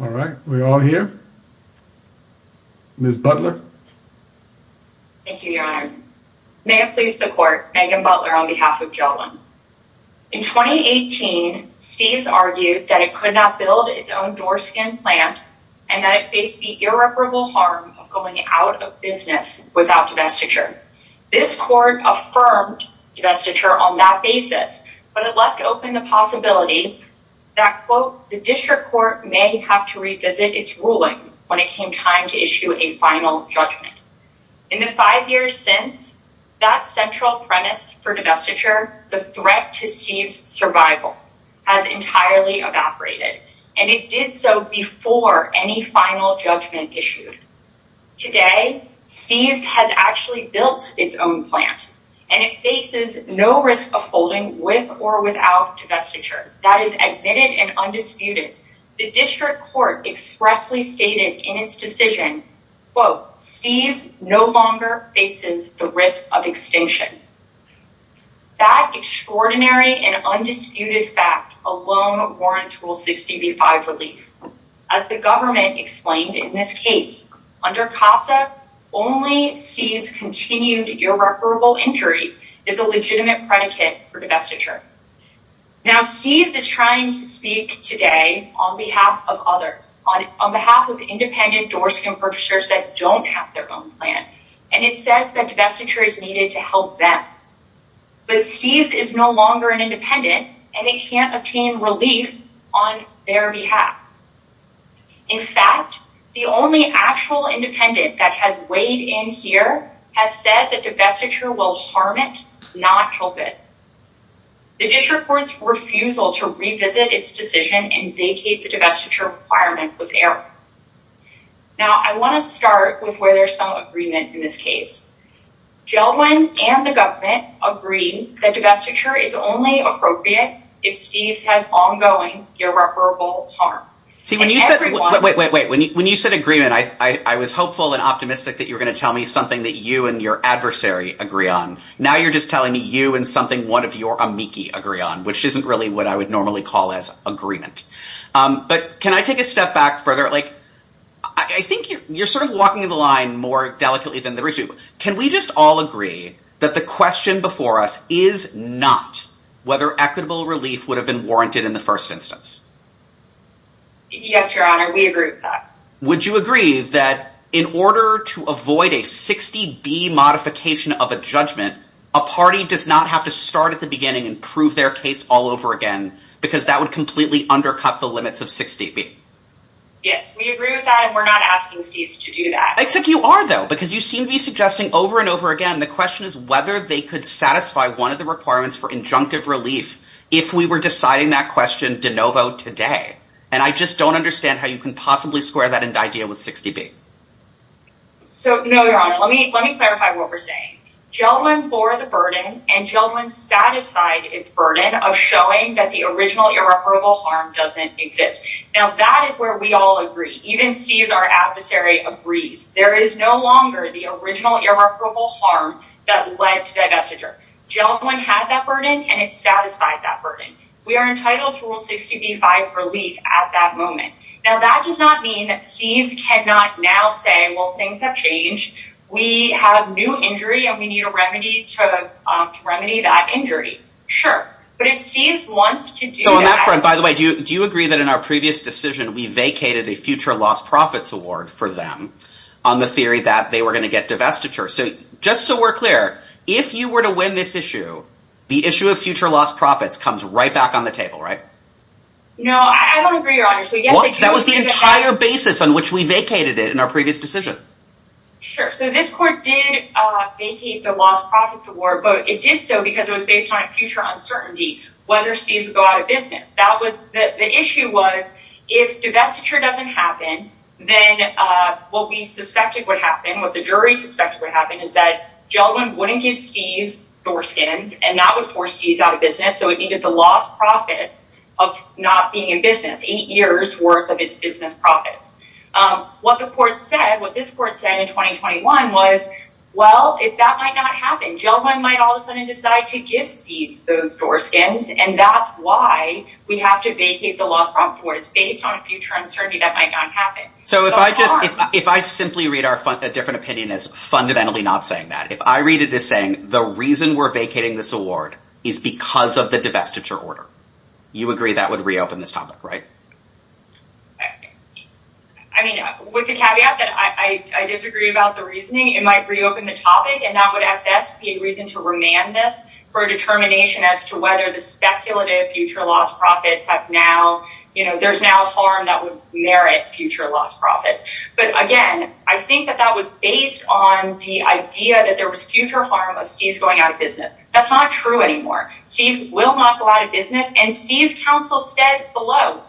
All right, we're all here. Ms. Butler. Thank you, Your Honor. May it please the Court, Megan Butler on behalf of Jeld-Wen. In 2018, Steves argued that it could not build its own doorskin plant and that it faced the irreparable harm of going out of business without divestiture. This Court affirmed divestiture on that basis, but it left open the possibility that, quote, the District Court may have to revisit its ruling when it came time to issue a final judgment. In the five years since, that central premise for divestiture, the threat to Steves' survival, has entirely evaporated, and it did so before any final judgment issued. Today, Steves has actually built its own plant, and it faces no risk of folding with or without divestiture. That is admitted and undisputed. The District Court expressly stated in its decision, quote, Steves no longer faces the risk of extinction. That extraordinary and undisputed fact alone warrants Rule 60b-5 relief. As the government explained in this case, under CASA, only Steves' continued irreparable injury is a legitimate predicate for divestiture. Now, Steves is trying to speak today on behalf of others, on behalf of independent doorskin purchasers that don't have their own plant, and it says that divestiture is needed to help them. But Steves is no longer an independent, and it can't obtain relief on their behalf. In fact, the only actual independent that has weighed in here has said that divestiture will harm it, not help it. The District Court's refusal to revisit its decision and vacate the divestiture requirement was error. Now, I want to start with where there's some agreement in this case. Gelwin and the government agree that divestiture is only appropriate if Steves has ongoing irreparable harm. See, when you said agreement, I was hopeful and optimistic that you were going to tell me something that you and your adversary agree on. Now you're just telling me you and something one of your amici agree on, which isn't really what I would normally call as agreement. But can I take a step back further? I think you're sort of walking the line more delicately than the rest of you. Can we just all agree that the question before us is not whether equitable relief would have been warranted in the first instance? Yes, Your Honor, we agree with that. Would you agree that in order to avoid a 60B modification of a judgment, a party does not have to start at the beginning and prove their case all over again, because that would completely undercut the limits of 60B? Yes, we agree with that and we're not asking Steves to do that. Except you are, though, because you seem to be suggesting over and over again the question is whether they could satisfy one of the requirements for injunctive relief if we were deciding that question de novo today. And I just don't understand how you can possibly square that idea with 60B. So, no, Your Honor, let me clarify what we're saying. Gelwin bore the burden and Gelwin satisfied its burden of showing that the original irreparable harm doesn't exist. Now, that is where we all agree. Even Steves, our adversary, agrees. There is no longer the original irreparable harm that led to divestiture. Gelwin had that burden and it satisfied that burden. We are entitled to Rule 60B-5 for relief at that moment. Now, that does not mean that Steves cannot now say, well, things have changed. We have new injury and we need a remedy to remedy that injury. Sure. But if Steves wants to do that... In our previous decision, we vacated a future lost profits award for them on the theory that they were going to get divestiture. So, just so we're clear, if you were to win this issue, the issue of future lost profits comes right back on the table, right? No, I don't agree, Your Honor. What? That was the entire basis on which we vacated it in our previous decision. Sure. So this court did vacate the lost profits award, but it did so because it was based on a future uncertainty, whether Steves would go out of business. The issue was, if divestiture doesn't happen, then what we suspected would happen, what the jury suspected would happen, is that Gelwin wouldn't give Steves door skins, and that would force Steves out of business. So it needed the lost profits of not being in business, eight years worth of its business profits. What the court said, what this court said in 2021 was, well, if that might not happen, Gelwin might all of a sudden decide to give Steves those door skins, and that's why we have to vacate the lost profits award. It's based on a future uncertainty that might not happen. So if I just, if I simply read a different opinion as fundamentally not saying that, if I read it as saying the reason we're vacating this award is because of the divestiture order, you agree that would reopen this topic, right? I mean, with the caveat that I disagree about the reasoning, it might reopen the topic, and that would at best be a reason to remand this for a determination as to whether the speculative future lost profits have now, you know, there's now harm that would merit future lost profits. But again, I think that that was based on the idea that there was future harm of Steves going out of business. That's not true anymore. Steves will not go out of business. And Steves counsel said below,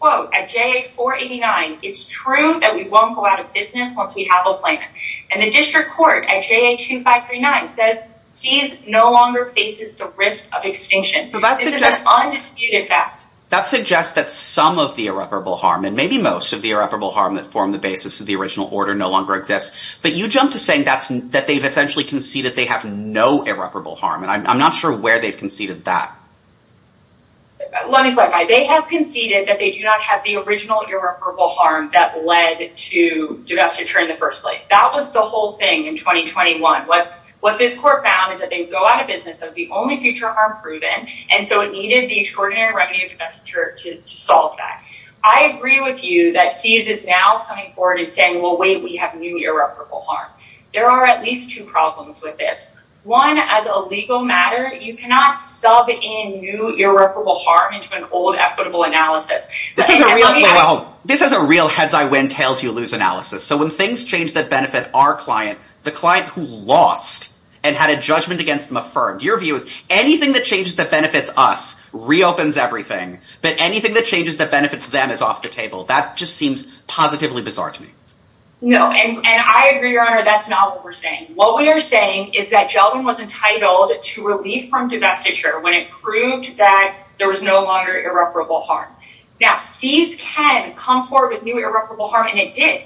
quote, at JA 489, it's true that we won't go out of business once we have a plan. And the district court at JA 2539 says Steves no longer faces the risk of extinction. But that suggests undisputed fact. That suggests that some of the irreparable harm and maybe most of the irreparable harm that formed the basis of the original order no longer exists. But you jump to saying that's that they've essentially conceded they have no irreparable harm. And I'm not sure where they've conceded that. Let me clarify. They have conceded that they do not have the original irreparable harm that led to divestiture in the first place. That was the whole thing in 2021. What this court found is that they go out of business as the only future harm proven. And so it needed the extraordinary remedy of divestiture to solve that. I agree with you that Steves is now coming forward and saying, well, wait, we have new irreparable harm. There are at least two problems with this. One, as a legal matter, you cannot sub in new irreparable harm into an old equitable analysis. This is a real heads I win, tails you lose analysis. So when things change that benefit our client, the client who lost and had a judgment against them affirmed, your view is anything that changes that benefits us reopens everything. But anything that changes that benefits them is off the table. That just seems positively bizarre to me. No. And I agree, Your Honor, that's not what we're saying. What we are saying is that Gelbin was entitled to relief from divestiture when it proved that there was no longer irreparable harm. Now, Steves can come forward with new irreparable harm, and it did.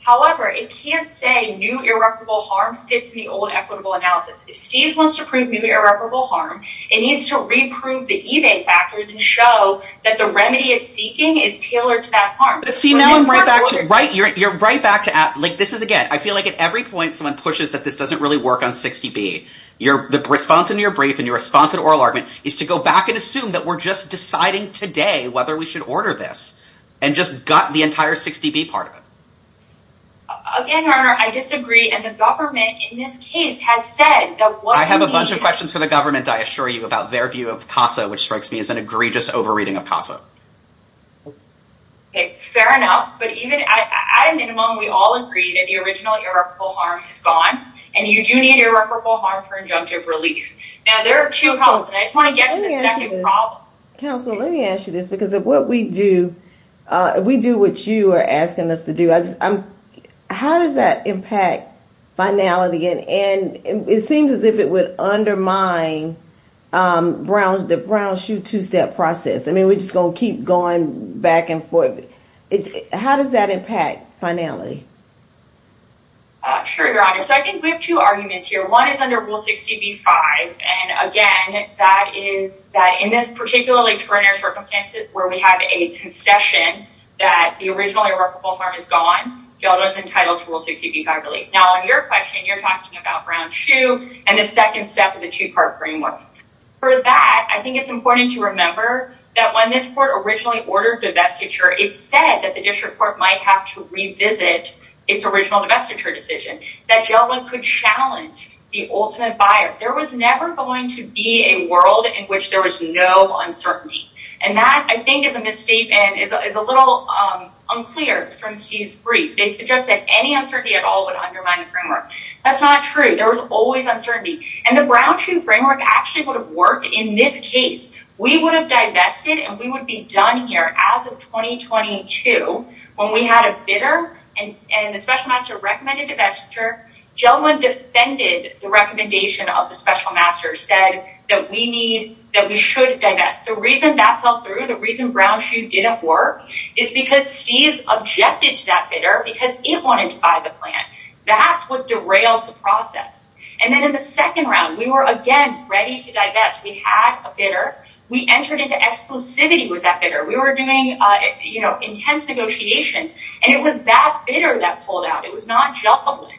However, it can't say new irreparable harm fits the old equitable analysis. If Steves wants to prove new irreparable harm, it needs to reprove the eBay factors and show that the remedy it's seeking is tailored to that harm. See, now I'm right back to right. You're right back to that. This is again, I feel like at every point someone pushes that this doesn't really work on 60B. Your response in your brief and your response in oral argument is to go back and assume that we're just deciding today whether we should order this and just gut the entire 60B part of it. Again, Your Honor, I disagree, and the government in this case has said that what we need. I have a bunch of questions for the government, I assure you, about their view of CASA, which strikes me as an egregious overreading of CASA. Fair enough, but even at a minimum, we all agree that the original irreparable harm is gone, and you do need irreparable harm for injunctive relief. Now, there are two problems, and I just want to get to the second problem. Counselor, let me ask you this, because of what we do, we do what you are asking us to do. How does that impact finality? It seems as if it would undermine the Brown Shoe two-step process. I mean, we're just going to keep going back and forth. How does that impact finality? Sure, Your Honor. So, I think we have two arguments here. One is under Rule 60B-5, and again, that is that in this particularly territorial circumstance where we have a concession that the original irreparable harm is gone, Geldo is entitled to Rule 60B-5 relief. Now, on your question, you're talking about Brown Shoe and the second step of the two-part framework. For that, I think it's important to remember that when this court originally ordered divestiture, it said that the district court might have to revisit its original divestiture decision, that Geldo could challenge the ultimate buyer. There was never going to be a world in which there was no uncertainty, and that, I think, is a mistake and is a little unclear from Steve's brief. They suggest that any uncertainty at all would undermine the framework. That's not true. There was always uncertainty, and the Brown Shoe framework actually would have worked in this case. We would have divested, and we would be done here as of 2022 when we had a bidder, and the special master recommended divestiture. Geldo defended the recommendation of the special master, said that we should divest. The reason that fell through, the reason Brown Shoe didn't work, is because Steve's objected to that bidder because it wanted to buy the plant. That's what derailed the process, and then in the second round, we were again ready to divest. We had a bidder. We entered into exclusivity with that bidder. We were doing intense negotiations, and it was that bidder that pulled out. It was not Geldo.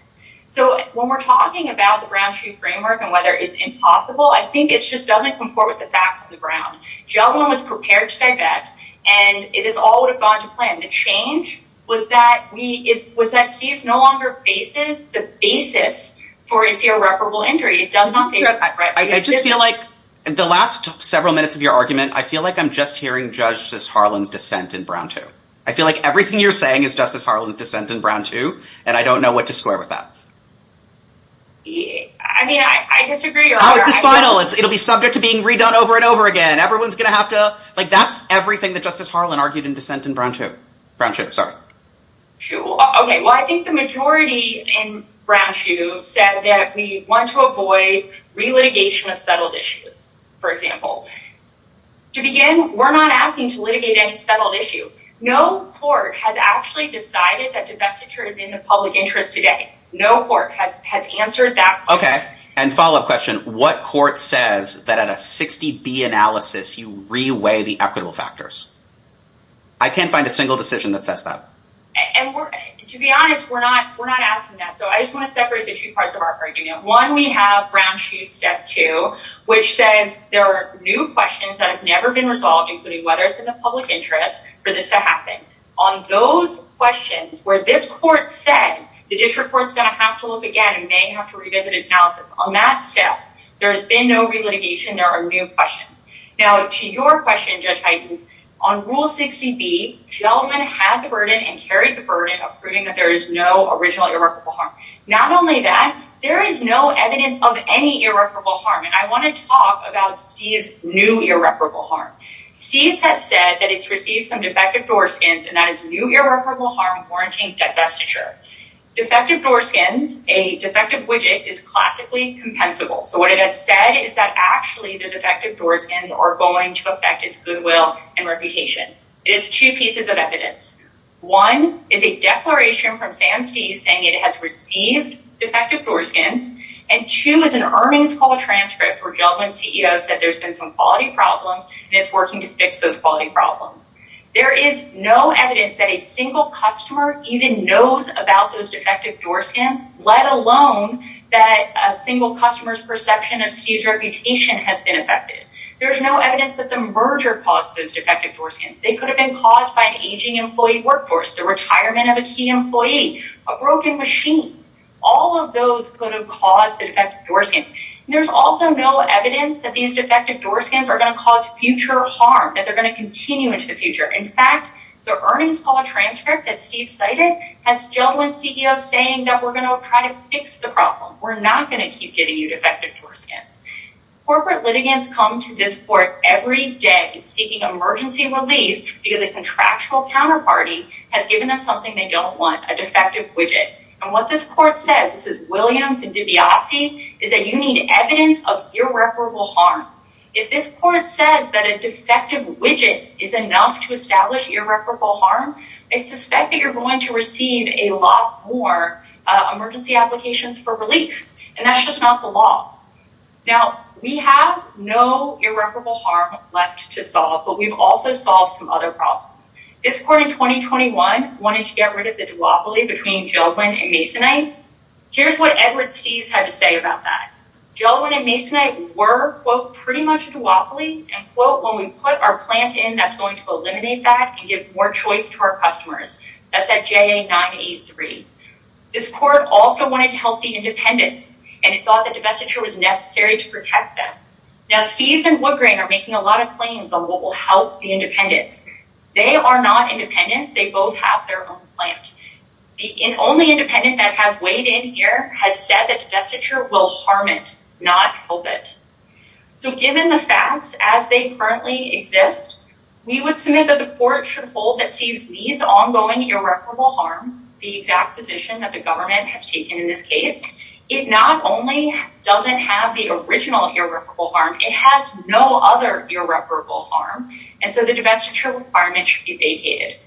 When we're talking about the Brown Shoe framework and whether it's impossible, I think it just doesn't comport with the facts of the Brown. Geldo was prepared to divest, and it all would have gone to plan. The change was that Steve no longer faces the basis for his irreparable injury. It does not face irreparable injury. I just feel like the last several minutes of your argument, I feel like I'm just hearing Justice Harlan's dissent in Brown 2. I feel like everything you're saying is Justice Harlan's dissent in Brown 2, and I don't know what to square with that. I mean, I disagree. How is this final? It'll be subject to being redone over and over again. Everyone's going to have to—like, that's everything that Justice Harlan argued in dissent in Brown 2. Brown Shoe, sorry. Okay, well, I think the majority in Brown Shoe said that we want to avoid relitigation of settled issues, for example. To begin, we're not asking to litigate any settled issue. No court has actually decided that divestiture is in the public interest today. No court has answered that question. Okay, and follow-up question. What court says that at a 60B analysis you reweigh the equitable factors? I can't find a single decision that says that. And to be honest, we're not asking that. So I just want to separate the two parts of our argument. One, we have Brown Shoe Step 2, which says there are new questions that have never been resolved, including whether it's in the public interest for this to happen. On those questions where this court said the district court's going to have to look again and may have to revisit its analysis, on that step, there's been no relitigation. There are new questions. Now, to your question, Judge Huygens, on Rule 60B, gentlemen had the burden and carried the burden of proving that there is no original irrevocable harm. Not only that, there is no evidence of any irrevocable harm. And I want to talk about Steve's new irrevocable harm. Steve has said that it's received some defective door skins and that it's new irrevocable harm warranting divestiture. Defective door skins, a defective widget, is classically compensable. So what it has said is that actually the defective door skins are going to affect its goodwill and reputation. It is two pieces of evidence. One is a declaration from Sam Steve saying it has received defective door skins. And two is an Ermings Call transcript where gentlemen CEO said there's been some quality problems and it's working to fix those quality problems. There is no evidence that a single customer even knows about those defective door skins, let alone that a single customer's perception of Steve's reputation has been affected. There's no evidence that the merger caused those defective door skins. They could have been caused by an aging employee workforce, the retirement of a key employee, a broken machine. All of those could have caused the defective door skins. There's also no evidence that these defective door skins are going to cause future harm, that they're going to continue into the future. In fact, the Ermings Call transcript that Steve cited has gentlemen CEOs saying that we're going to try to fix the problem. We're not going to keep getting you defective door skins. Corporate litigants come to this court every day seeking emergency relief because a contractual counterparty has given them something they don't want, a defective widget. And what this court says, this is Williams and DiBiase, is that you need evidence of irreparable harm. If this court says that a defective widget is enough to establish irreparable harm, I suspect that you're going to receive a lot more emergency applications for relief. And that's just not the law. Now, we have no irreparable harm left to solve, but we've also solved some other problems. This court in 2021 wanted to get rid of the duopoly between Gelwin and Masonite. Here's what Edward Steeves had to say about that. Gelwin and Masonite were, quote, pretty much a duopoly. And, quote, when we put our plant in, that's going to eliminate that and give more choice to our customers. That's at JA 983. This court also wanted to help the independents, and it thought that divestiture was necessary to protect them. Now, Steeves and Woodgrain are making a lot of claims on what will help the independents. They are not independents. They both have their own plant. The only independent that has weighed in here has said that divestiture will harm it, not help it. So given the facts as they currently exist, we would submit that the court should hold that Steeves needs ongoing irreparable harm, the exact position that the government has taken in this case. It not only doesn't have the original irreparable harm. It has no other irreparable harm. And so the divestiture requirement should be vacated.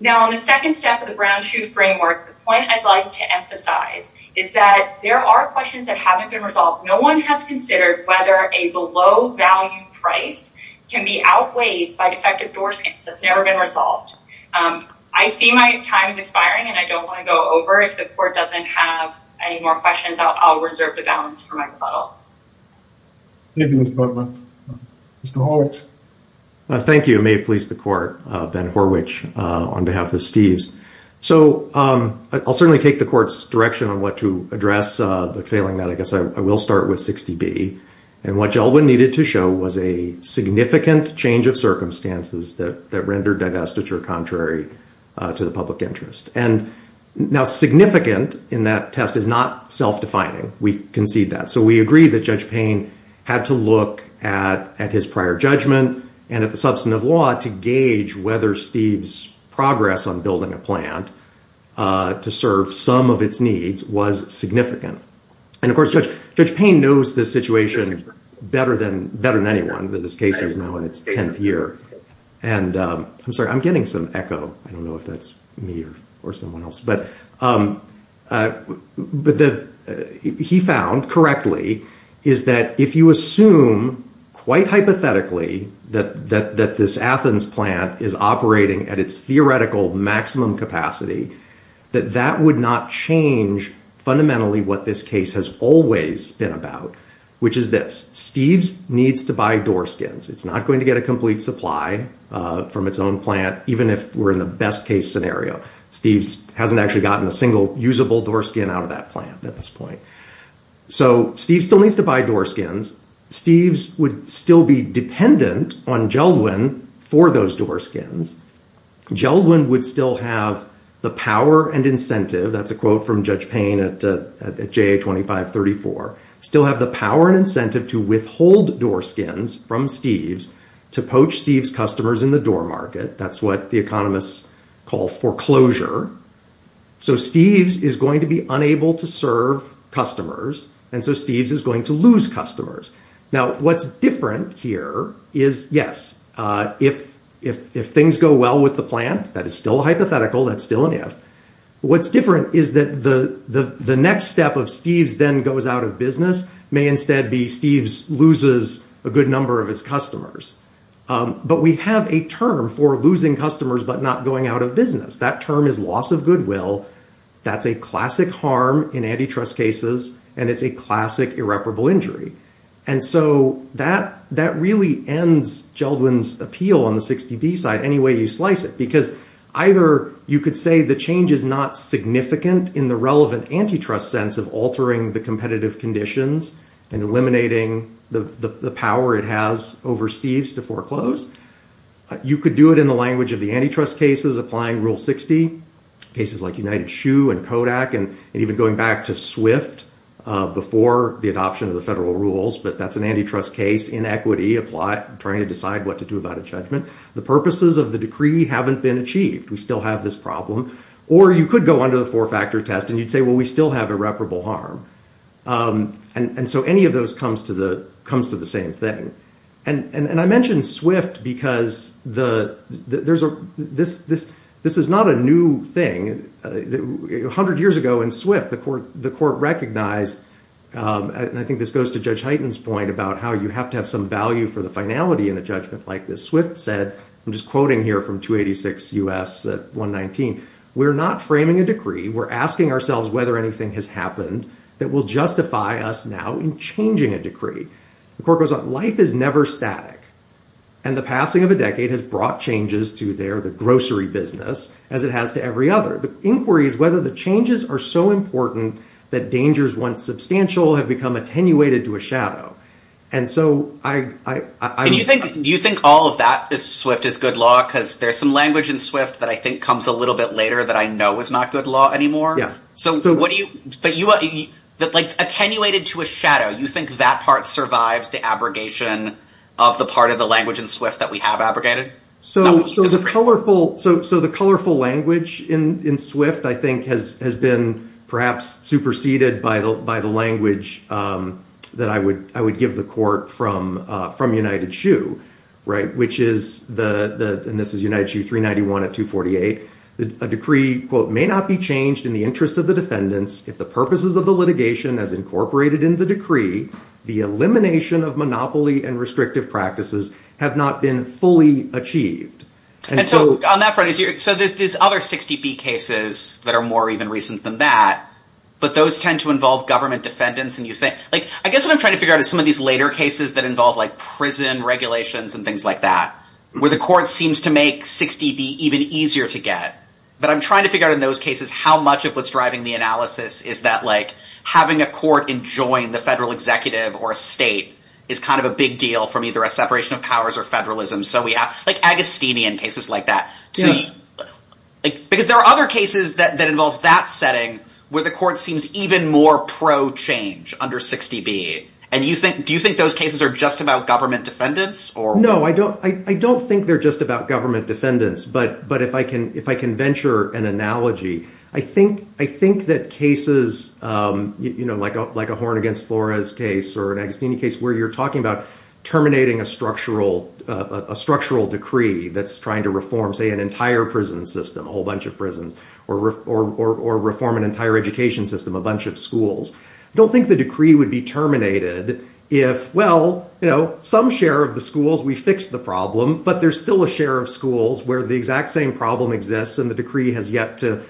Now, on the second step of the Brown-Chu framework, the point I'd like to emphasize is that there are questions that haven't been resolved. No one has considered whether a below-value price can be outweighed by defective door skins. That's never been resolved. I see my time is expiring, and I don't want to go over. If the court doesn't have any more questions, I'll reserve the balance for my rebuttal. Thank you, Ms. Butler. Mr. Horwich. Thank you. It may have pleased the court, Ben Horwich, on behalf of Steeves. So I'll certainly take the court's direction on what to address. But failing that, I guess I will start with 60B. And what Gelbman needed to show was a significant change of circumstances that rendered divestiture contrary to the public interest. And now significant in that test is not self-defining. We concede that. So we agree that Judge Payne had to look at his prior judgment and at the substance of law to gauge whether Steeves' progress on building a plant to serve some of its needs was significant. And, of course, Judge Payne knows this situation better than anyone that this case is now in its 10th year. And I'm sorry, I'm getting some echo. I don't know if that's me or someone else. But what he found correctly is that if you assume, quite hypothetically, that this Athens plant is operating at its theoretical maximum capacity, that that would not change fundamentally what this case has always been about, which is this. Steeves needs to buy door skins. It's not going to get a complete supply from its own plant, even if we're in the best case scenario. Steeves hasn't actually gotten a single usable door skin out of that plant at this point. So Steeves still needs to buy door skins. Steeves would still be dependent on Geldwin for those door skins. Geldwin would still have the power and incentive, that's a quote from Judge Payne at JA 2534, still have the power and incentive to withhold door skins from Steeves to poach Steeves' customers in the door market. That's what the economists call foreclosure. So Steeves is going to be unable to serve customers, and so Steeves is going to lose customers. Now, what's different here is, yes, if things go well with the plant, that is still a hypothetical, that's still an if. What's different is that the next step of Steeves then goes out of business may instead be Steeves loses a good number of its customers. But we have a term for losing customers, but not going out of business. That term is loss of goodwill. That's a classic harm in antitrust cases, and it's a classic irreparable injury. And so that really ends Geldwin's appeal on the 60B side, any way you slice it, because either you could say the change is not significant in the relevant antitrust sense of altering the competitive conditions and eliminating the power it has over Steeves to foreclose. You could do it in the language of the antitrust cases applying Rule 60, cases like United Shoe and Kodak, and even going back to Swift before the adoption of the federal rules, but that's an antitrust case, inequity, trying to decide what to do about a judgment. The purposes of the decree haven't been achieved. We still have this problem. Or you could go under the four-factor test and you'd say, well, we still have irreparable harm. And so any of those comes to the same thing. And I mentioned Swift because this is not a new thing. A hundred years ago in Swift, the court recognized, and I think this goes to Judge Heighten's point about how you have to have some value for the finality in a judgment like this. Swift said, I'm just quoting here from 286 U.S. 119, we're not framing a decree. We're asking ourselves whether anything has happened that will justify us now in changing a decree. The court goes on, life is never static. And the passing of a decade has brought changes to the grocery business as it has to every other. The inquiry is whether the changes are so important that dangers, once substantial, have become attenuated to a shadow. Do you think all of that, Swift, is good law? Because there's some language in Swift that I think comes a little bit later that I know is not good law anymore. But attenuated to a shadow, you think that part survives the abrogation of the part of the language in Swift that we have abrogated? So the colorful language in Swift, I think, has been perhaps superseded by the language that I would give the court from United Shoe, which is, and this is United Shoe 391 at 248, a decree, quote, may not be changed in the interest of the defendants if the purposes of the litigation as incorporated in the decree, the elimination of monopoly and restrictive practices, have not been fully achieved. And so on that front, so there's other 60B cases that are more even recent than that, but those tend to involve government defendants. I guess what I'm trying to figure out is some of these later cases that involve prison regulations and things like that, where the court seems to make 60B even easier to get. But I'm trying to figure out in those cases how much of what's driving the analysis is that having a court enjoin the federal executive or a state is kind of a big deal from either a separation of powers or federalism. So we have like Agostini in cases like that. Because there are other cases that involve that setting where the court seems even more pro-change under 60B. And do you think those cases are just about government defendants? No, I don't think they're just about government defendants. But if I can venture an analogy, I think that cases like a Horn against Flores case or an Agostini case where you're talking about terminating a structural decree that's trying to reform, say, an entire prison system, a whole bunch of prisons, or reform an entire education system, a bunch of schools. I don't think the decree would be terminated if, well, some share of the schools, we fixed the problem, but there's still a share of schools where the exact same problem exists and the decree has yet to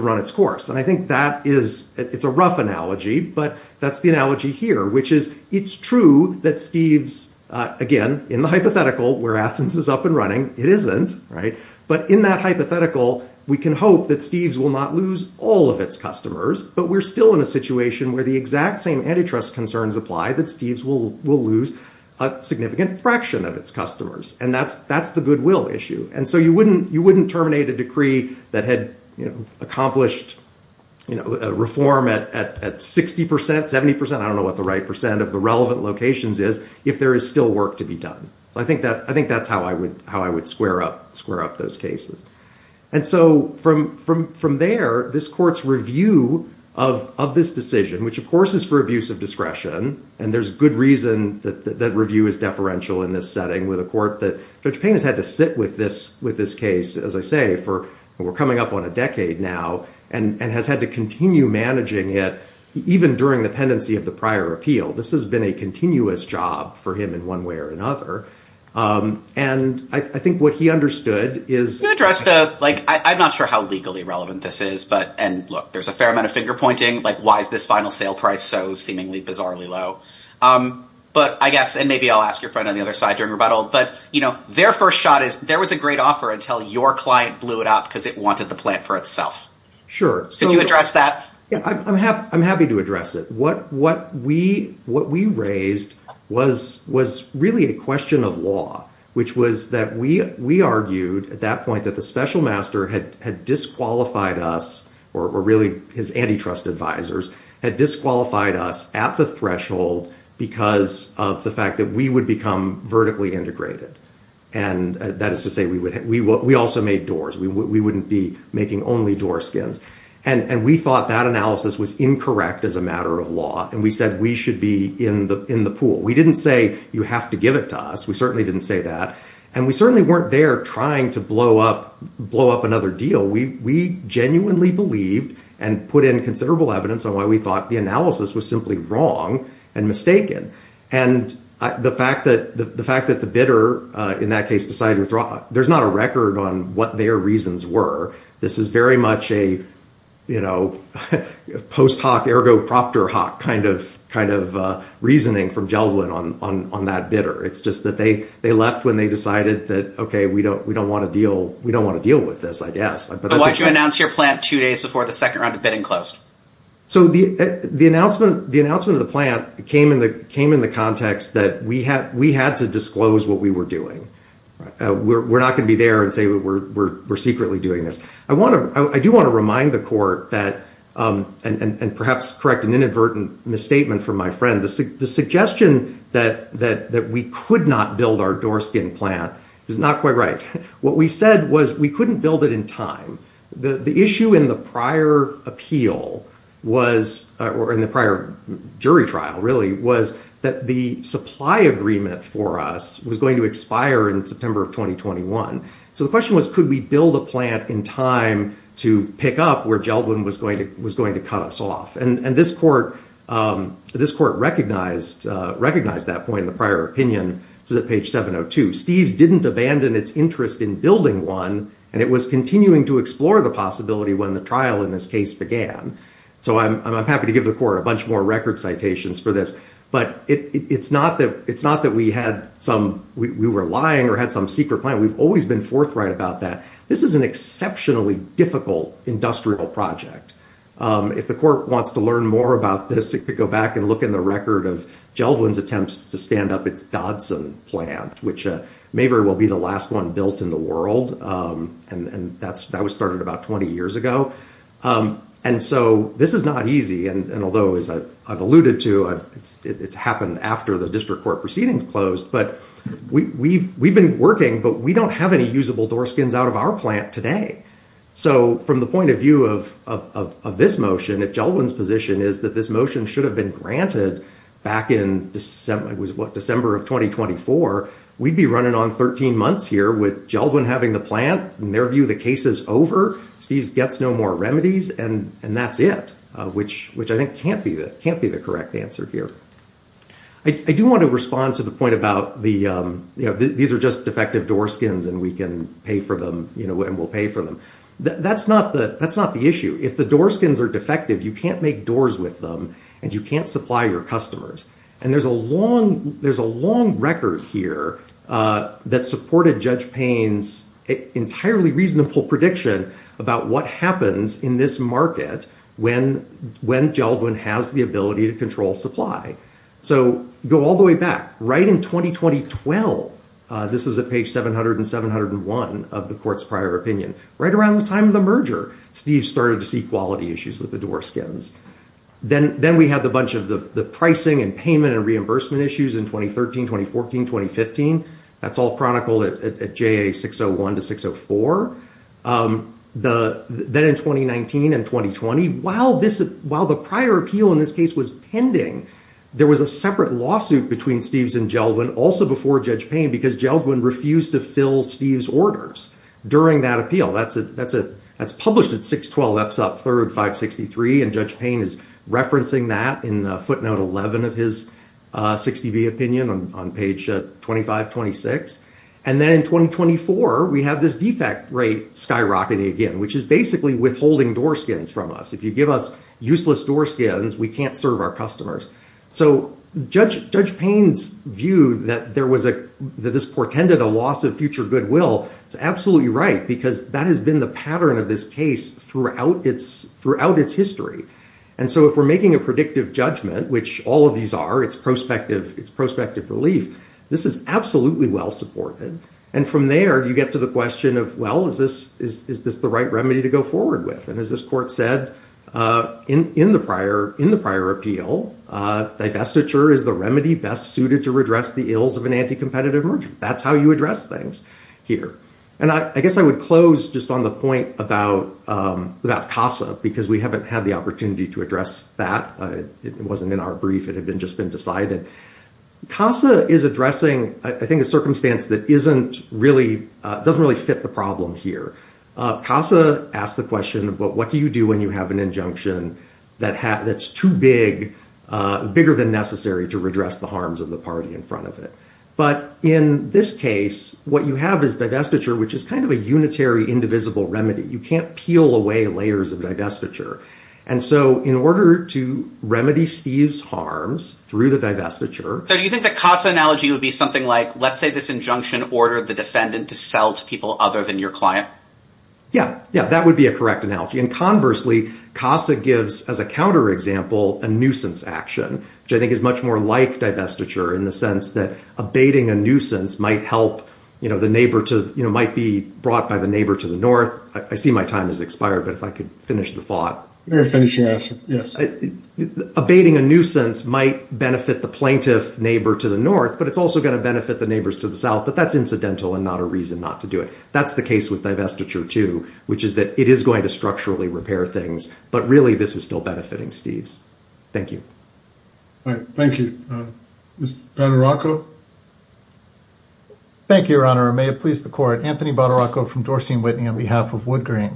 run its course. And I think it's a rough analogy, but that's the analogy here, which is it's true that Steves, again, in the hypothetical where Athens is up and running, it isn't. But in that hypothetical, we can hope that Steves will not lose all of its customers. But we're still in a situation where the exact same antitrust concerns apply, that Steves will lose a significant fraction of its customers. And that's the goodwill issue. And so you wouldn't terminate a decree that had accomplished reform at 60%, 70%? I don't know what the right percent of the relevant locations is if there is still work to be done. I think that's how I would square up those cases. And so from there, this court's review of this decision, which, of course, is for abuse of discretion, and there's good reason that review is deferential in this setting with a court that Judge Payne has had to sit with this case, as I say, for, we're coming up on a decade now, and has had to continue managing it even during the pendency of the prior appeal. This has been a continuous job for him in one way or another. And I think what he understood is... You addressed, like, I'm not sure how legally relevant this is, but, and look, there's a fair amount of finger pointing, like, why is this final sale price so seemingly bizarrely low? But I guess, and maybe I'll ask your friend on the other side during rebuttal, but, you know, their first shot is there was a great offer until your client blew it up because it wanted the plant for itself. Sure. Could you address that? I'm happy to address it. What we raised was really a question of law, which was that we argued at that point that the special master had disqualified us, or really his antitrust advisors, had disqualified us at the threshold because of the fact that we would become vertically integrated. And that is to say we also made doors. We wouldn't be making only door skins. And we thought that analysis was incorrect as a matter of law. And we said we should be in the pool. We didn't say you have to give it to us. We certainly didn't say that. And we certainly weren't there trying to blow up another deal. We genuinely believed and put in considerable evidence on why we thought the analysis was simply wrong and mistaken. And the fact that the bidder in that case decided to withdraw, there's not a record on what their reasons were. This is very much a post hoc ergo proctor hoc kind of reasoning from Geldof on that bidder. It's just that they left when they decided that, okay, we don't want to deal with this, I guess. Why did you announce your plant two days before the second round of bidding closed? So the announcement of the plant came in the context that we had to disclose what we were doing. We're not going to be there and say we're secretly doing this. I do want to remind the court that, and perhaps correct an inadvertent misstatement from my friend, the suggestion that we could not build our door skin plant is not quite right. What we said was we couldn't build it in time. The issue in the prior appeal was, or in the prior jury trial really, was that the supply agreement for us was going to expire in September of 2021. So the question was, could we build a plant in time to pick up where Geldof was going to cut us off? And this court recognized that point in the prior opinion. Steve's didn't abandon its interest in building one, and it was continuing to explore the possibility when the trial in this case began. So I'm happy to give the court a bunch more record citations for this. But it's not that we were lying or had some secret plan. We've always been forthright about that. This is an exceptionally difficult industrial project. If the court wants to learn more about this, they could go back and look in the record of Geldof's attempts to stand up its Dodson plant, which may very well be the last one built in the world. And that was started about 20 years ago. And so this is not easy. And although, as I've alluded to, it's happened after the district court proceedings closed. But we've been working, but we don't have any usable door skins out of our plant today. So from the point of view of this motion, if Geldof's position is that this motion should have been granted back in December of 2024, we'd be running on 13 months here with Geldof having the plant. In their view, the case is over. Steve gets no more remedies. And that's it, which I think can't be the correct answer here. I do want to respond to the point about these are just defective door skins, and we can pay for them, and we'll pay for them. That's not the issue. If the door skins are defective, you can't make doors with them, and you can't supply your customers. And there's a long record here that supported Judge Payne's entirely reasonable prediction about what happens in this market when Geldof has the ability to control supply. So go all the way back. Right in 2020-12, this is at page 700 and 701 of the court's prior opinion, right around the time of the merger, Steve started to see quality issues with the door skins. Then we had a bunch of the pricing and payment and reimbursement issues in 2013, 2014, 2015. That's all chronicled at JA 601 to 604. Then in 2019 and 2020, while the prior appeal in this case was pending, there was a separate lawsuit between Steve's and Geldof, and also before Judge Payne, because Geldof refused to fill Steve's orders during that appeal. That's published at 612 F. Sup. 3rd, 563, and Judge Payne is referencing that in footnote 11 of his 60B opinion on page 2526. And then in 2024, we have this defect rate skyrocketing again, which is basically withholding door skins from us. If you give us useless door skins, we can't serve our customers. So Judge Payne's view that this portended a loss of future goodwill is absolutely right, because that has been the pattern of this case throughout its history. And so if we're making a predictive judgment, which all of these are, it's prospective relief, this is absolutely well-supported. And from there, you get to the question of, well, is this the right remedy to go forward with? And as this court said in the prior appeal, divestiture is the remedy best suited to redress the ills of an anti-competitive merchant. That's how you address things here. And I guess I would close just on the point about CASA, because we haven't had the opportunity to address that. It wasn't in our brief. It had just been decided. CASA is addressing, I think, a circumstance that doesn't really fit the problem here. CASA asks the question, but what do you do when you have an injunction that's too big, bigger than necessary to redress the harms of the party in front of it? But in this case, what you have is divestiture, which is kind of a unitary, indivisible remedy. You can't peel away layers of divestiture. And so in order to remedy Steve's harms through the divestiture... So do you think the CASA analogy would be something like, let's say this injunction ordered the defendant to sell to people other than your client? Yeah. Yeah, that would be a correct analogy. And conversely, CASA gives, as a counterexample, a nuisance action, which I think is much more like divestiture in the sense that abating a nuisance might help, you know, the neighbor to, you know, might be brought by the neighbor to the north. I see my time has expired, but if I could finish the thought. Finish the answer, yes. Abating a nuisance might benefit the plaintiff neighbor to the north, but it's also going to benefit the neighbors to the south. But that's incidental and not a reason not to do it. That's the case with divestiture, too, which is that it is going to structurally repair things. But really, this is still benefiting Steve's. Thank you. All right. Thank you. Ms. Badaracco. Thank you, Your Honor. May it please the court. Anthony Badaracco from Dorsey & Whitney on behalf of Woodgrain.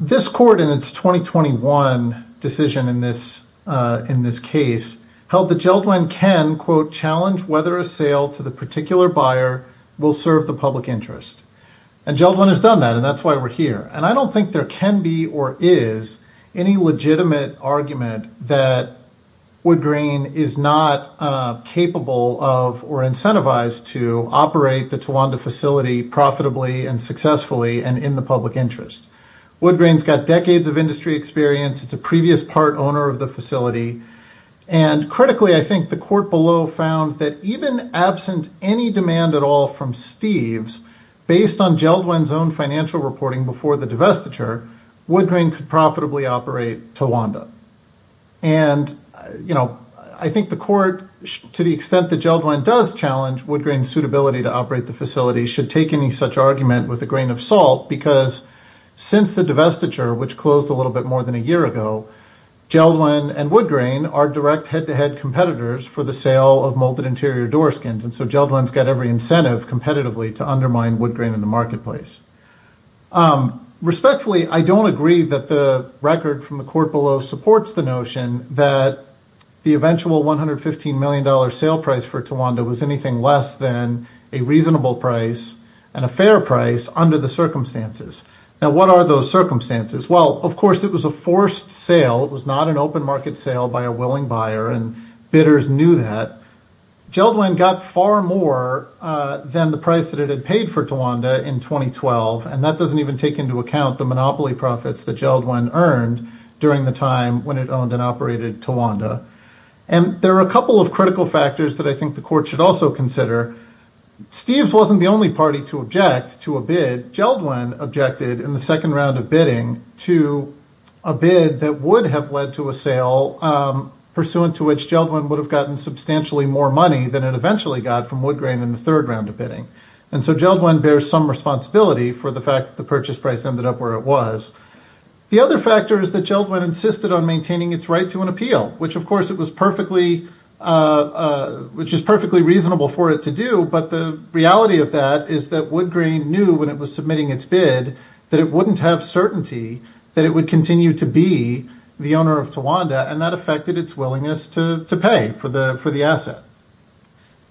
This court in its 2021 decision in this case held that Jeldwyn can, quote, challenge whether a sale to the particular buyer will serve the public interest. And Jeldwyn has done that, and that's why we're here. And I don't think there can be or is any legitimate argument that Woodgrain is not capable of or incentivized to operate the Tawanda facility profitably and successfully and in the public interest. Woodgrain's got decades of industry experience. It's a previous part owner of the facility. And critically, I think the court below found that even absent any demand at all from Steve's, based on Jeldwyn's own financial reporting before the divestiture, Woodgrain could profitably operate Tawanda. And, you know, I think the court, to the extent that Jeldwyn does challenge Woodgrain's suitability to operate the facility, should take any such argument with a grain of salt because since the divestiture, which closed a little bit more than a year ago, Jeldwyn and Woodgrain are direct head-to-head competitors for the sale of molded interior door skins. And so Jeldwyn's got every incentive competitively to undermine Woodgrain in the marketplace. Respectfully, I don't agree that the record from the court below supports the notion that the eventual $115 million sale price for Tawanda was anything less than a reasonable price and a fair price under the circumstances. Now, what are those circumstances? Well, of course, it was a forced sale. It was not an open market sale by a willing buyer, and bidders knew that. Jeldwyn got far more than the price that it had paid for Tawanda in 2012. And that doesn't even take into account the monopoly profits that Jeldwyn earned during the time when it owned and operated Tawanda. And there are a couple of critical factors that I think the court should also consider. Steve's wasn't the only party to object to a bid. Jeldwyn objected in the second round of bidding to a bid that would have led to a sale, pursuant to which Jeldwyn would have gotten substantially more money than it eventually got from Woodgrain in the third round of bidding. And so Jeldwyn bears some responsibility for the fact that the purchase price ended up where it was. The other factor is that Jeldwyn insisted on maintaining its right to an appeal, which of course it was perfectly, which is perfectly reasonable for it to do. But the reality of that is that Woodgrain knew when it was submitting its bid, that it wouldn't have certainty that it would continue to be the owner of Tawanda, and that affected its willingness to pay for the for the asset.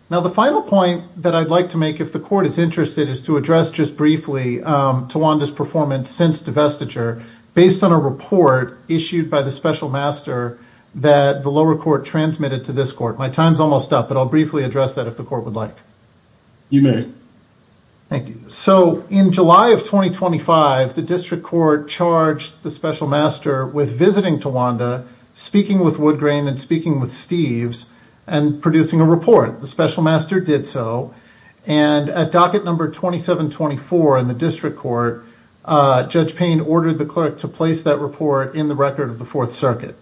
Now, the final point that I'd like to make, if the court is interested, is to address just briefly Tawanda's performance since divestiture, based on a report issued by the special master that the lower court transmitted to this court. My time's almost up, but I'll briefly address that if the court would like. You may. Thank you. So in July of 2025, the district court charged the special master with visiting Tawanda, speaking with Woodgrain and speaking with Steeves and producing a report. The special master did so. And at docket number 2724 in the district court, Judge Payne ordered the clerk to place that report in the record of the Fourth Circuit.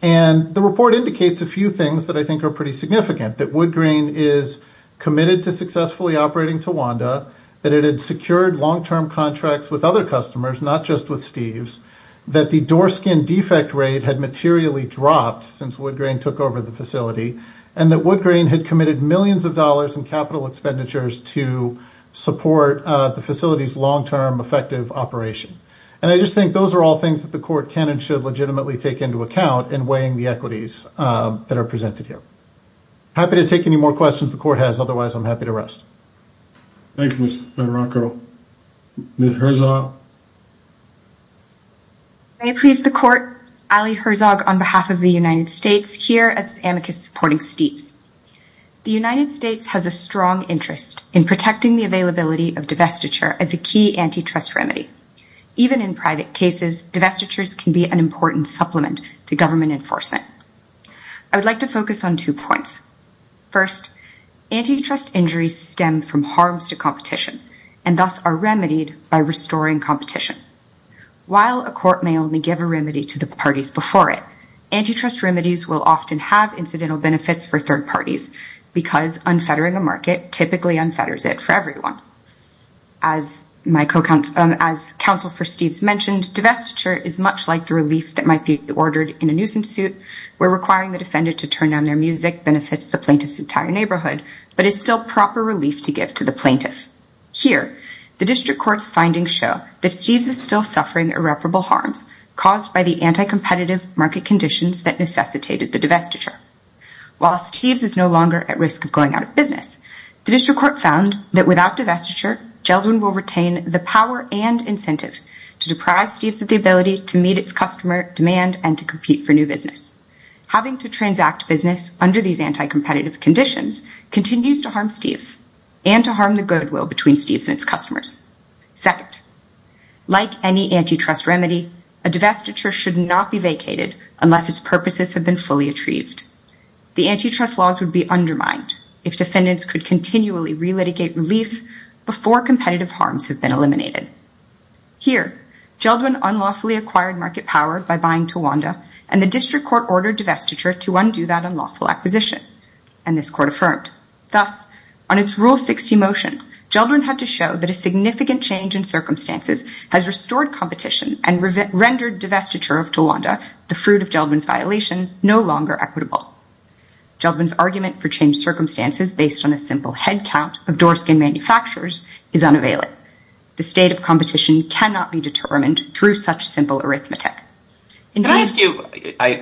And the report indicates a few things that I think are pretty significant, that Woodgrain is committed to successfully operating Tawanda, that it had secured long term contracts with other customers, not just with Steeves, that the door skin defect rate had materially dropped since Woodgrain took over the facility, and that Woodgrain had committed millions of dollars in capital expenditures to support the facility's long term effective operation. And I just think those are all things that the court can and should legitimately take into account in weighing the equities that are presented here. Happy to take any more questions the court has. Otherwise, I'm happy to rest. Thank you, Mr. Bedrocko. Ms. Herzog. May it please the court, Ali Herzog on behalf of the United States here as amicus supporting Steeves. The United States has a strong interest in protecting the availability of divestiture as a key antitrust remedy. Even in private cases, divestitures can be an important supplement to government enforcement. I would like to focus on two points. First, antitrust injuries stem from harms to competition and thus are remedied by restoring competition. While a court may only give a remedy to the parties before it, antitrust remedies will often have incidental benefits for third parties because unfettering a market typically unfetters it for everyone. As counsel for Steeves mentioned, divestiture is much like the relief that might be ordered in a nuisance suit where requiring the defendant to turn down their music benefits the plaintiff's entire neighborhood but is still proper relief to give to the plaintiff. Here, the district court's findings show that Steeves is still suffering irreparable harms caused by the anti-competitive market conditions that necessitated the divestiture. While Steeves is no longer at risk of going out of business, the district court found that without divestiture, Geldwin will retain the power and incentive to deprive Steeves of the ability to meet its customer demand and to compete for new business. Having to transact business under these anti-competitive conditions continues to harm Steeves and to harm the goodwill between Steeves and its customers. Second, like any antitrust remedy, a divestiture should not be vacated unless its purposes have been fully achieved. The antitrust laws would be undermined if defendants could continually re-litigate relief before competitive harms have been eliminated. Here, Geldwin unlawfully acquired market power by buying Tawanda and the district court ordered divestiture to undo that unlawful acquisition. And this court affirmed. Thus, on its Rule 60 motion, Geldwin had to show that a significant change in circumstances has restored competition and rendered divestiture of Tawanda, the fruit of Geldwin's violation, no longer equitable. Geldwin's argument for changed circumstances based on a simple headcount of doorskin manufacturers is unavailable. The state of competition cannot be determined through such simple arithmetic. Can I ask you,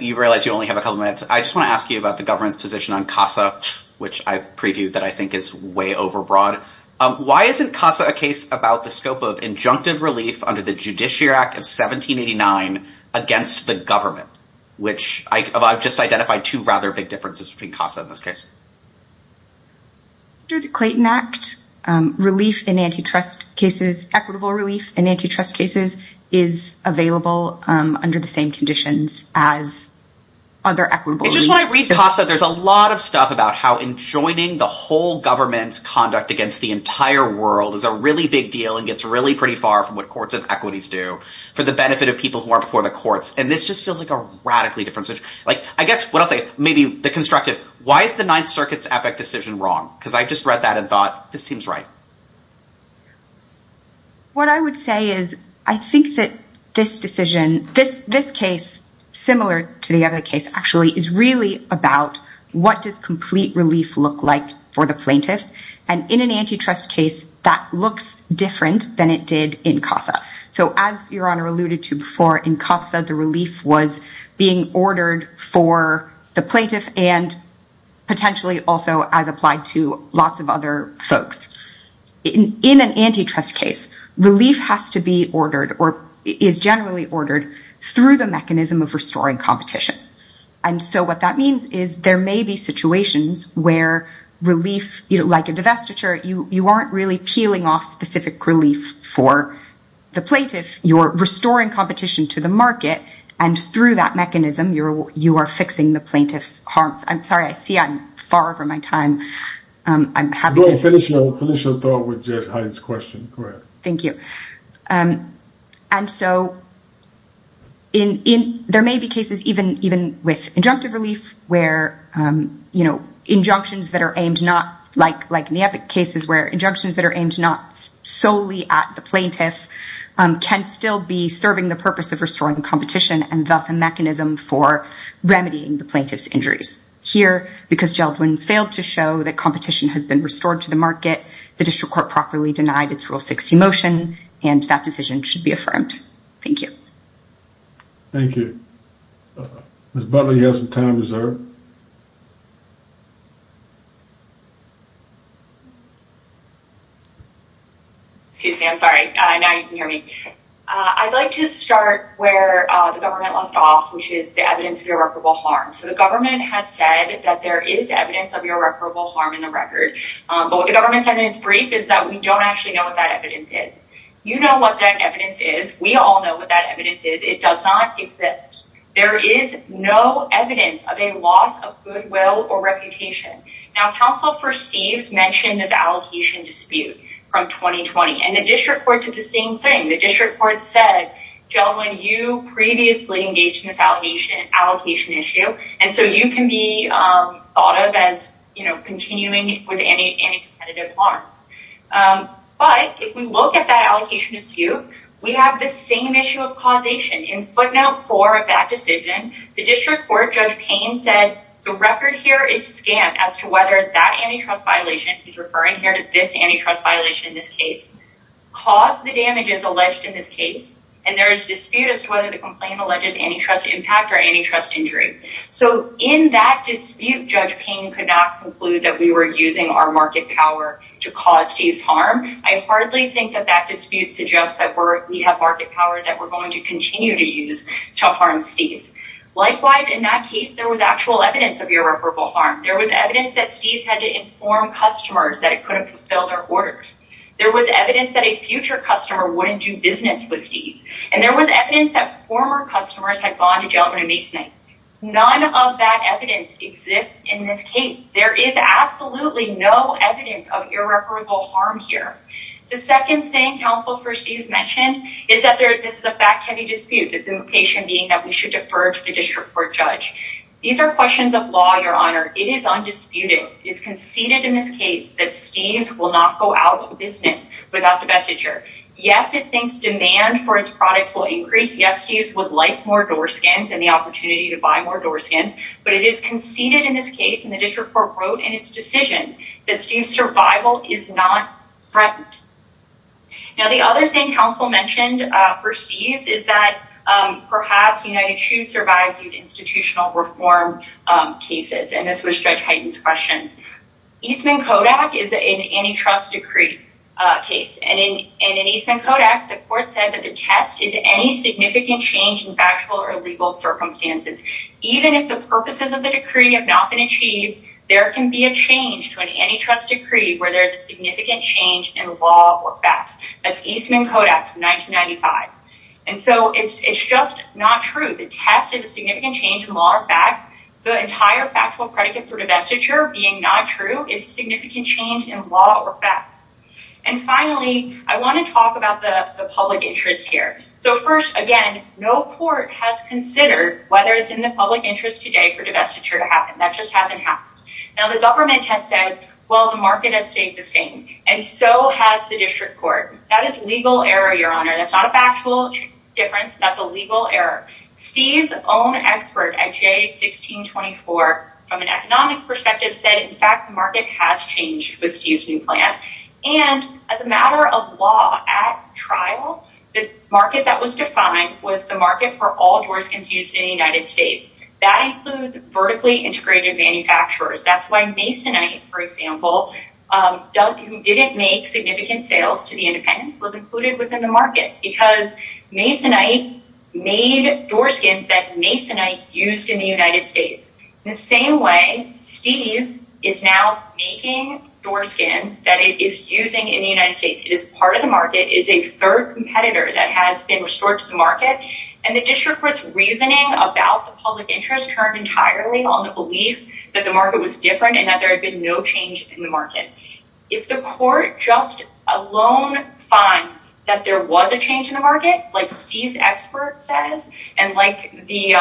you realize you only have a couple minutes, I just want to ask you about the government's position on CASA, which I've previewed that I think is way overbroad. Why isn't CASA a case about the scope of injunctive relief under the Judiciary Act of 1789 against the government, which I've just identified two rather big differences between CASA in this case. Under the Clayton Act, relief in antitrust cases, equitable relief in antitrust cases, is available under the same conditions as other equitable relief. It's just when I read CASA, there's a lot of stuff about how enjoining the whole government's conduct against the entire world is a really big deal and gets really pretty far from what courts and equities do for the benefit of people who aren't before the courts. And this just feels like a radically different situation. Like, I guess what I'll say, maybe the constructive, why is the Ninth Circuit's EPIC decision wrong? Because I just read that and thought, this seems right. What I would say is, I think that this decision, this case, similar to the other case, actually is really about what does complete relief look like for the plaintiff. And in an antitrust case, that looks different than it did in CASA. So as Your Honor alluded to before, in CASA, the relief was being ordered for the plaintiff and potentially also as applied to lots of other folks. In an antitrust case, relief has to be ordered or is generally ordered through the mechanism of restoring competition. And so what that means is there may be situations where relief, like a divestiture, you aren't really peeling off specific relief for the plaintiff. You're restoring competition to the market. And through that mechanism, you are fixing the plaintiff's harms. I'm sorry, I see I'm far over my time. I'm happy to finish the thought with Judge Hyde's question. Thank you. And so there may be cases, even with injunctive relief, where injunctions that are aimed, like in the Epic cases where injunctions that are aimed not solely at the plaintiff can still be serving the purpose of restoring competition and thus a mechanism for remedying the plaintiff's injuries. Here, because Geldwin failed to show that competition has been restored to the market, the district court properly denied its Rule 60 motion, and that decision should be affirmed. Thank you. Thank you. Ms. Butler, you have some time reserved. Excuse me, I'm sorry. Now you can hear me. I'd like to start where the government left off, which is the evidence of irreparable harm. So the government has said that there is evidence of irreparable harm in the record. But what the government said in its brief is that we don't actually know what that evidence is. You know what that evidence is. We all know what that evidence is. It does not exist. There is no evidence of a loss of goodwill or reputation. Now, Counsel for Steeves mentioned this allocation dispute from 2020, and the district court did the same thing. The district court said, Geldwin, you previously engaged in this allocation issue, and so you can be thought of as continuing with any competitive arms. But if we look at that allocation dispute, we have the same issue of causation. In footnote 4 of that decision, the district court, Judge Payne, said the record here is scant as to whether that antitrust violation, he's referring here to this antitrust violation in this case, caused the damages alleged in this case, and there is dispute as to whether the complaint alleges antitrust impact or antitrust injury. So in that dispute, Judge Payne could not conclude that we were using our market power to cause Steeves harm. I hardly think that that dispute suggests that we have market power that we're going to continue to use to harm Steeves. Likewise, in that case, there was actual evidence of irreparable harm. There was evidence that Steeves had to inform customers that it couldn't fulfill their orders. There was evidence that a future customer wouldn't do business with Steeves, and there was evidence that former customers had bonded gentlemen in Masonite. None of that evidence exists in this case. There is absolutely no evidence of irreparable harm here. The second thing counsel for Steeves mentioned is that this is a fact-heavy dispute, this implication being that we should defer to the district court judge. These are questions of law, Your Honor. It is undisputed, it's conceded in this case, that Steeves will not go out of business without the vestiture. Yes, it thinks demand for its products will increase. Yes, Steeves would like more door skins and the opportunity to buy more door skins, but it is conceded in this case, and the district court wrote in its decision, that Steeves' survival is not threatened. Now, the other thing counsel mentioned for Steeves is that perhaps United Shoes survives these institutional reform cases, and this was Judge Heighten's question. Eastman Kodak is an antitrust decree case, and in Eastman Kodak, the court said that the test is any significant change in factual or legal circumstances. Even if the purposes of the decree have not been achieved, there can be a change to an antitrust decree where there is a significant change in law or facts. That's Eastman Kodak from 1995. And so it's just not true. The test is a significant change in law or facts. The entire factual predicate for the vestiture being not true is a significant change in law or facts. And finally, I want to talk about the public interest here. So first, again, no court has considered whether it's in the public interest today for divestiture to happen. That just hasn't happened. Now, the government has said, well, the market has stayed the same, and so has the district court. That is legal error, Your Honor. That's not a factual difference. That's a legal error. Steeves' own expert at J1624, from an economics perspective, said, in fact, the market has changed with Steeves' new plan. And as a matter of law, at trial, the market that was defined was the market for all door skins used in the United States. That includes vertically integrated manufacturers. That's why Masonite, for example, who didn't make significant sales to the independents, was included within the market because Masonite made door skins that Masonite used in the United States. In the same way, Steeves is now making door skins that it is using in the United States. It is part of the market. It is a third competitor that has been restored to the market. And the district court's reasoning about the public interest turned entirely on the belief that the market was different and that there had been no change in the market. If the court just alone finds that there was a change in the market, like Steeves' expert says, and like the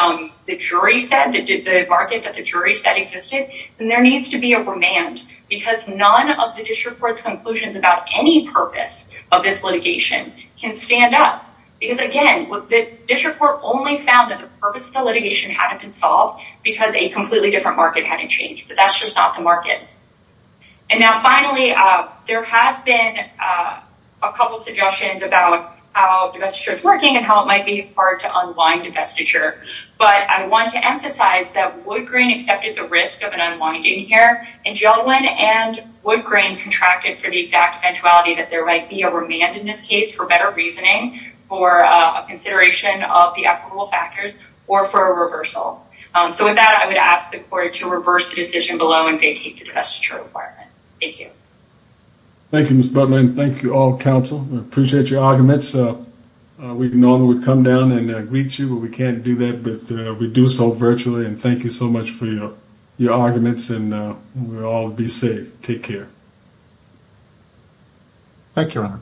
jury said, the market that the jury said existed, then there needs to be a remand because none of the district court's conclusions about any purpose of this litigation can stand up. Because again, the district court only found that the purpose of the litigation hadn't been solved because a completely different market hadn't changed. But that's just not the market. And now finally, there has been a couple of suggestions about how divestiture is working and how it might be hard to unwind divestiture. But I want to emphasize that Woodgreen accepted the risk of an unwinding here and Gelwin and Woodgreen contracted for the exact eventuality that there might be a remand in this case for better reasoning, for consideration of the equitable factors, or for a reversal. So with that, I would ask the court to reverse the decision below and vacate the divestiture requirement. Thank you. Thank you, Ms. Butler, and thank you all, counsel. I appreciate your arguments. We normally would come down and greet you, but we can't do that. But we do so virtually, and thank you so much for your arguments and we'll all be safe. Take care. Thank you, Your Honor.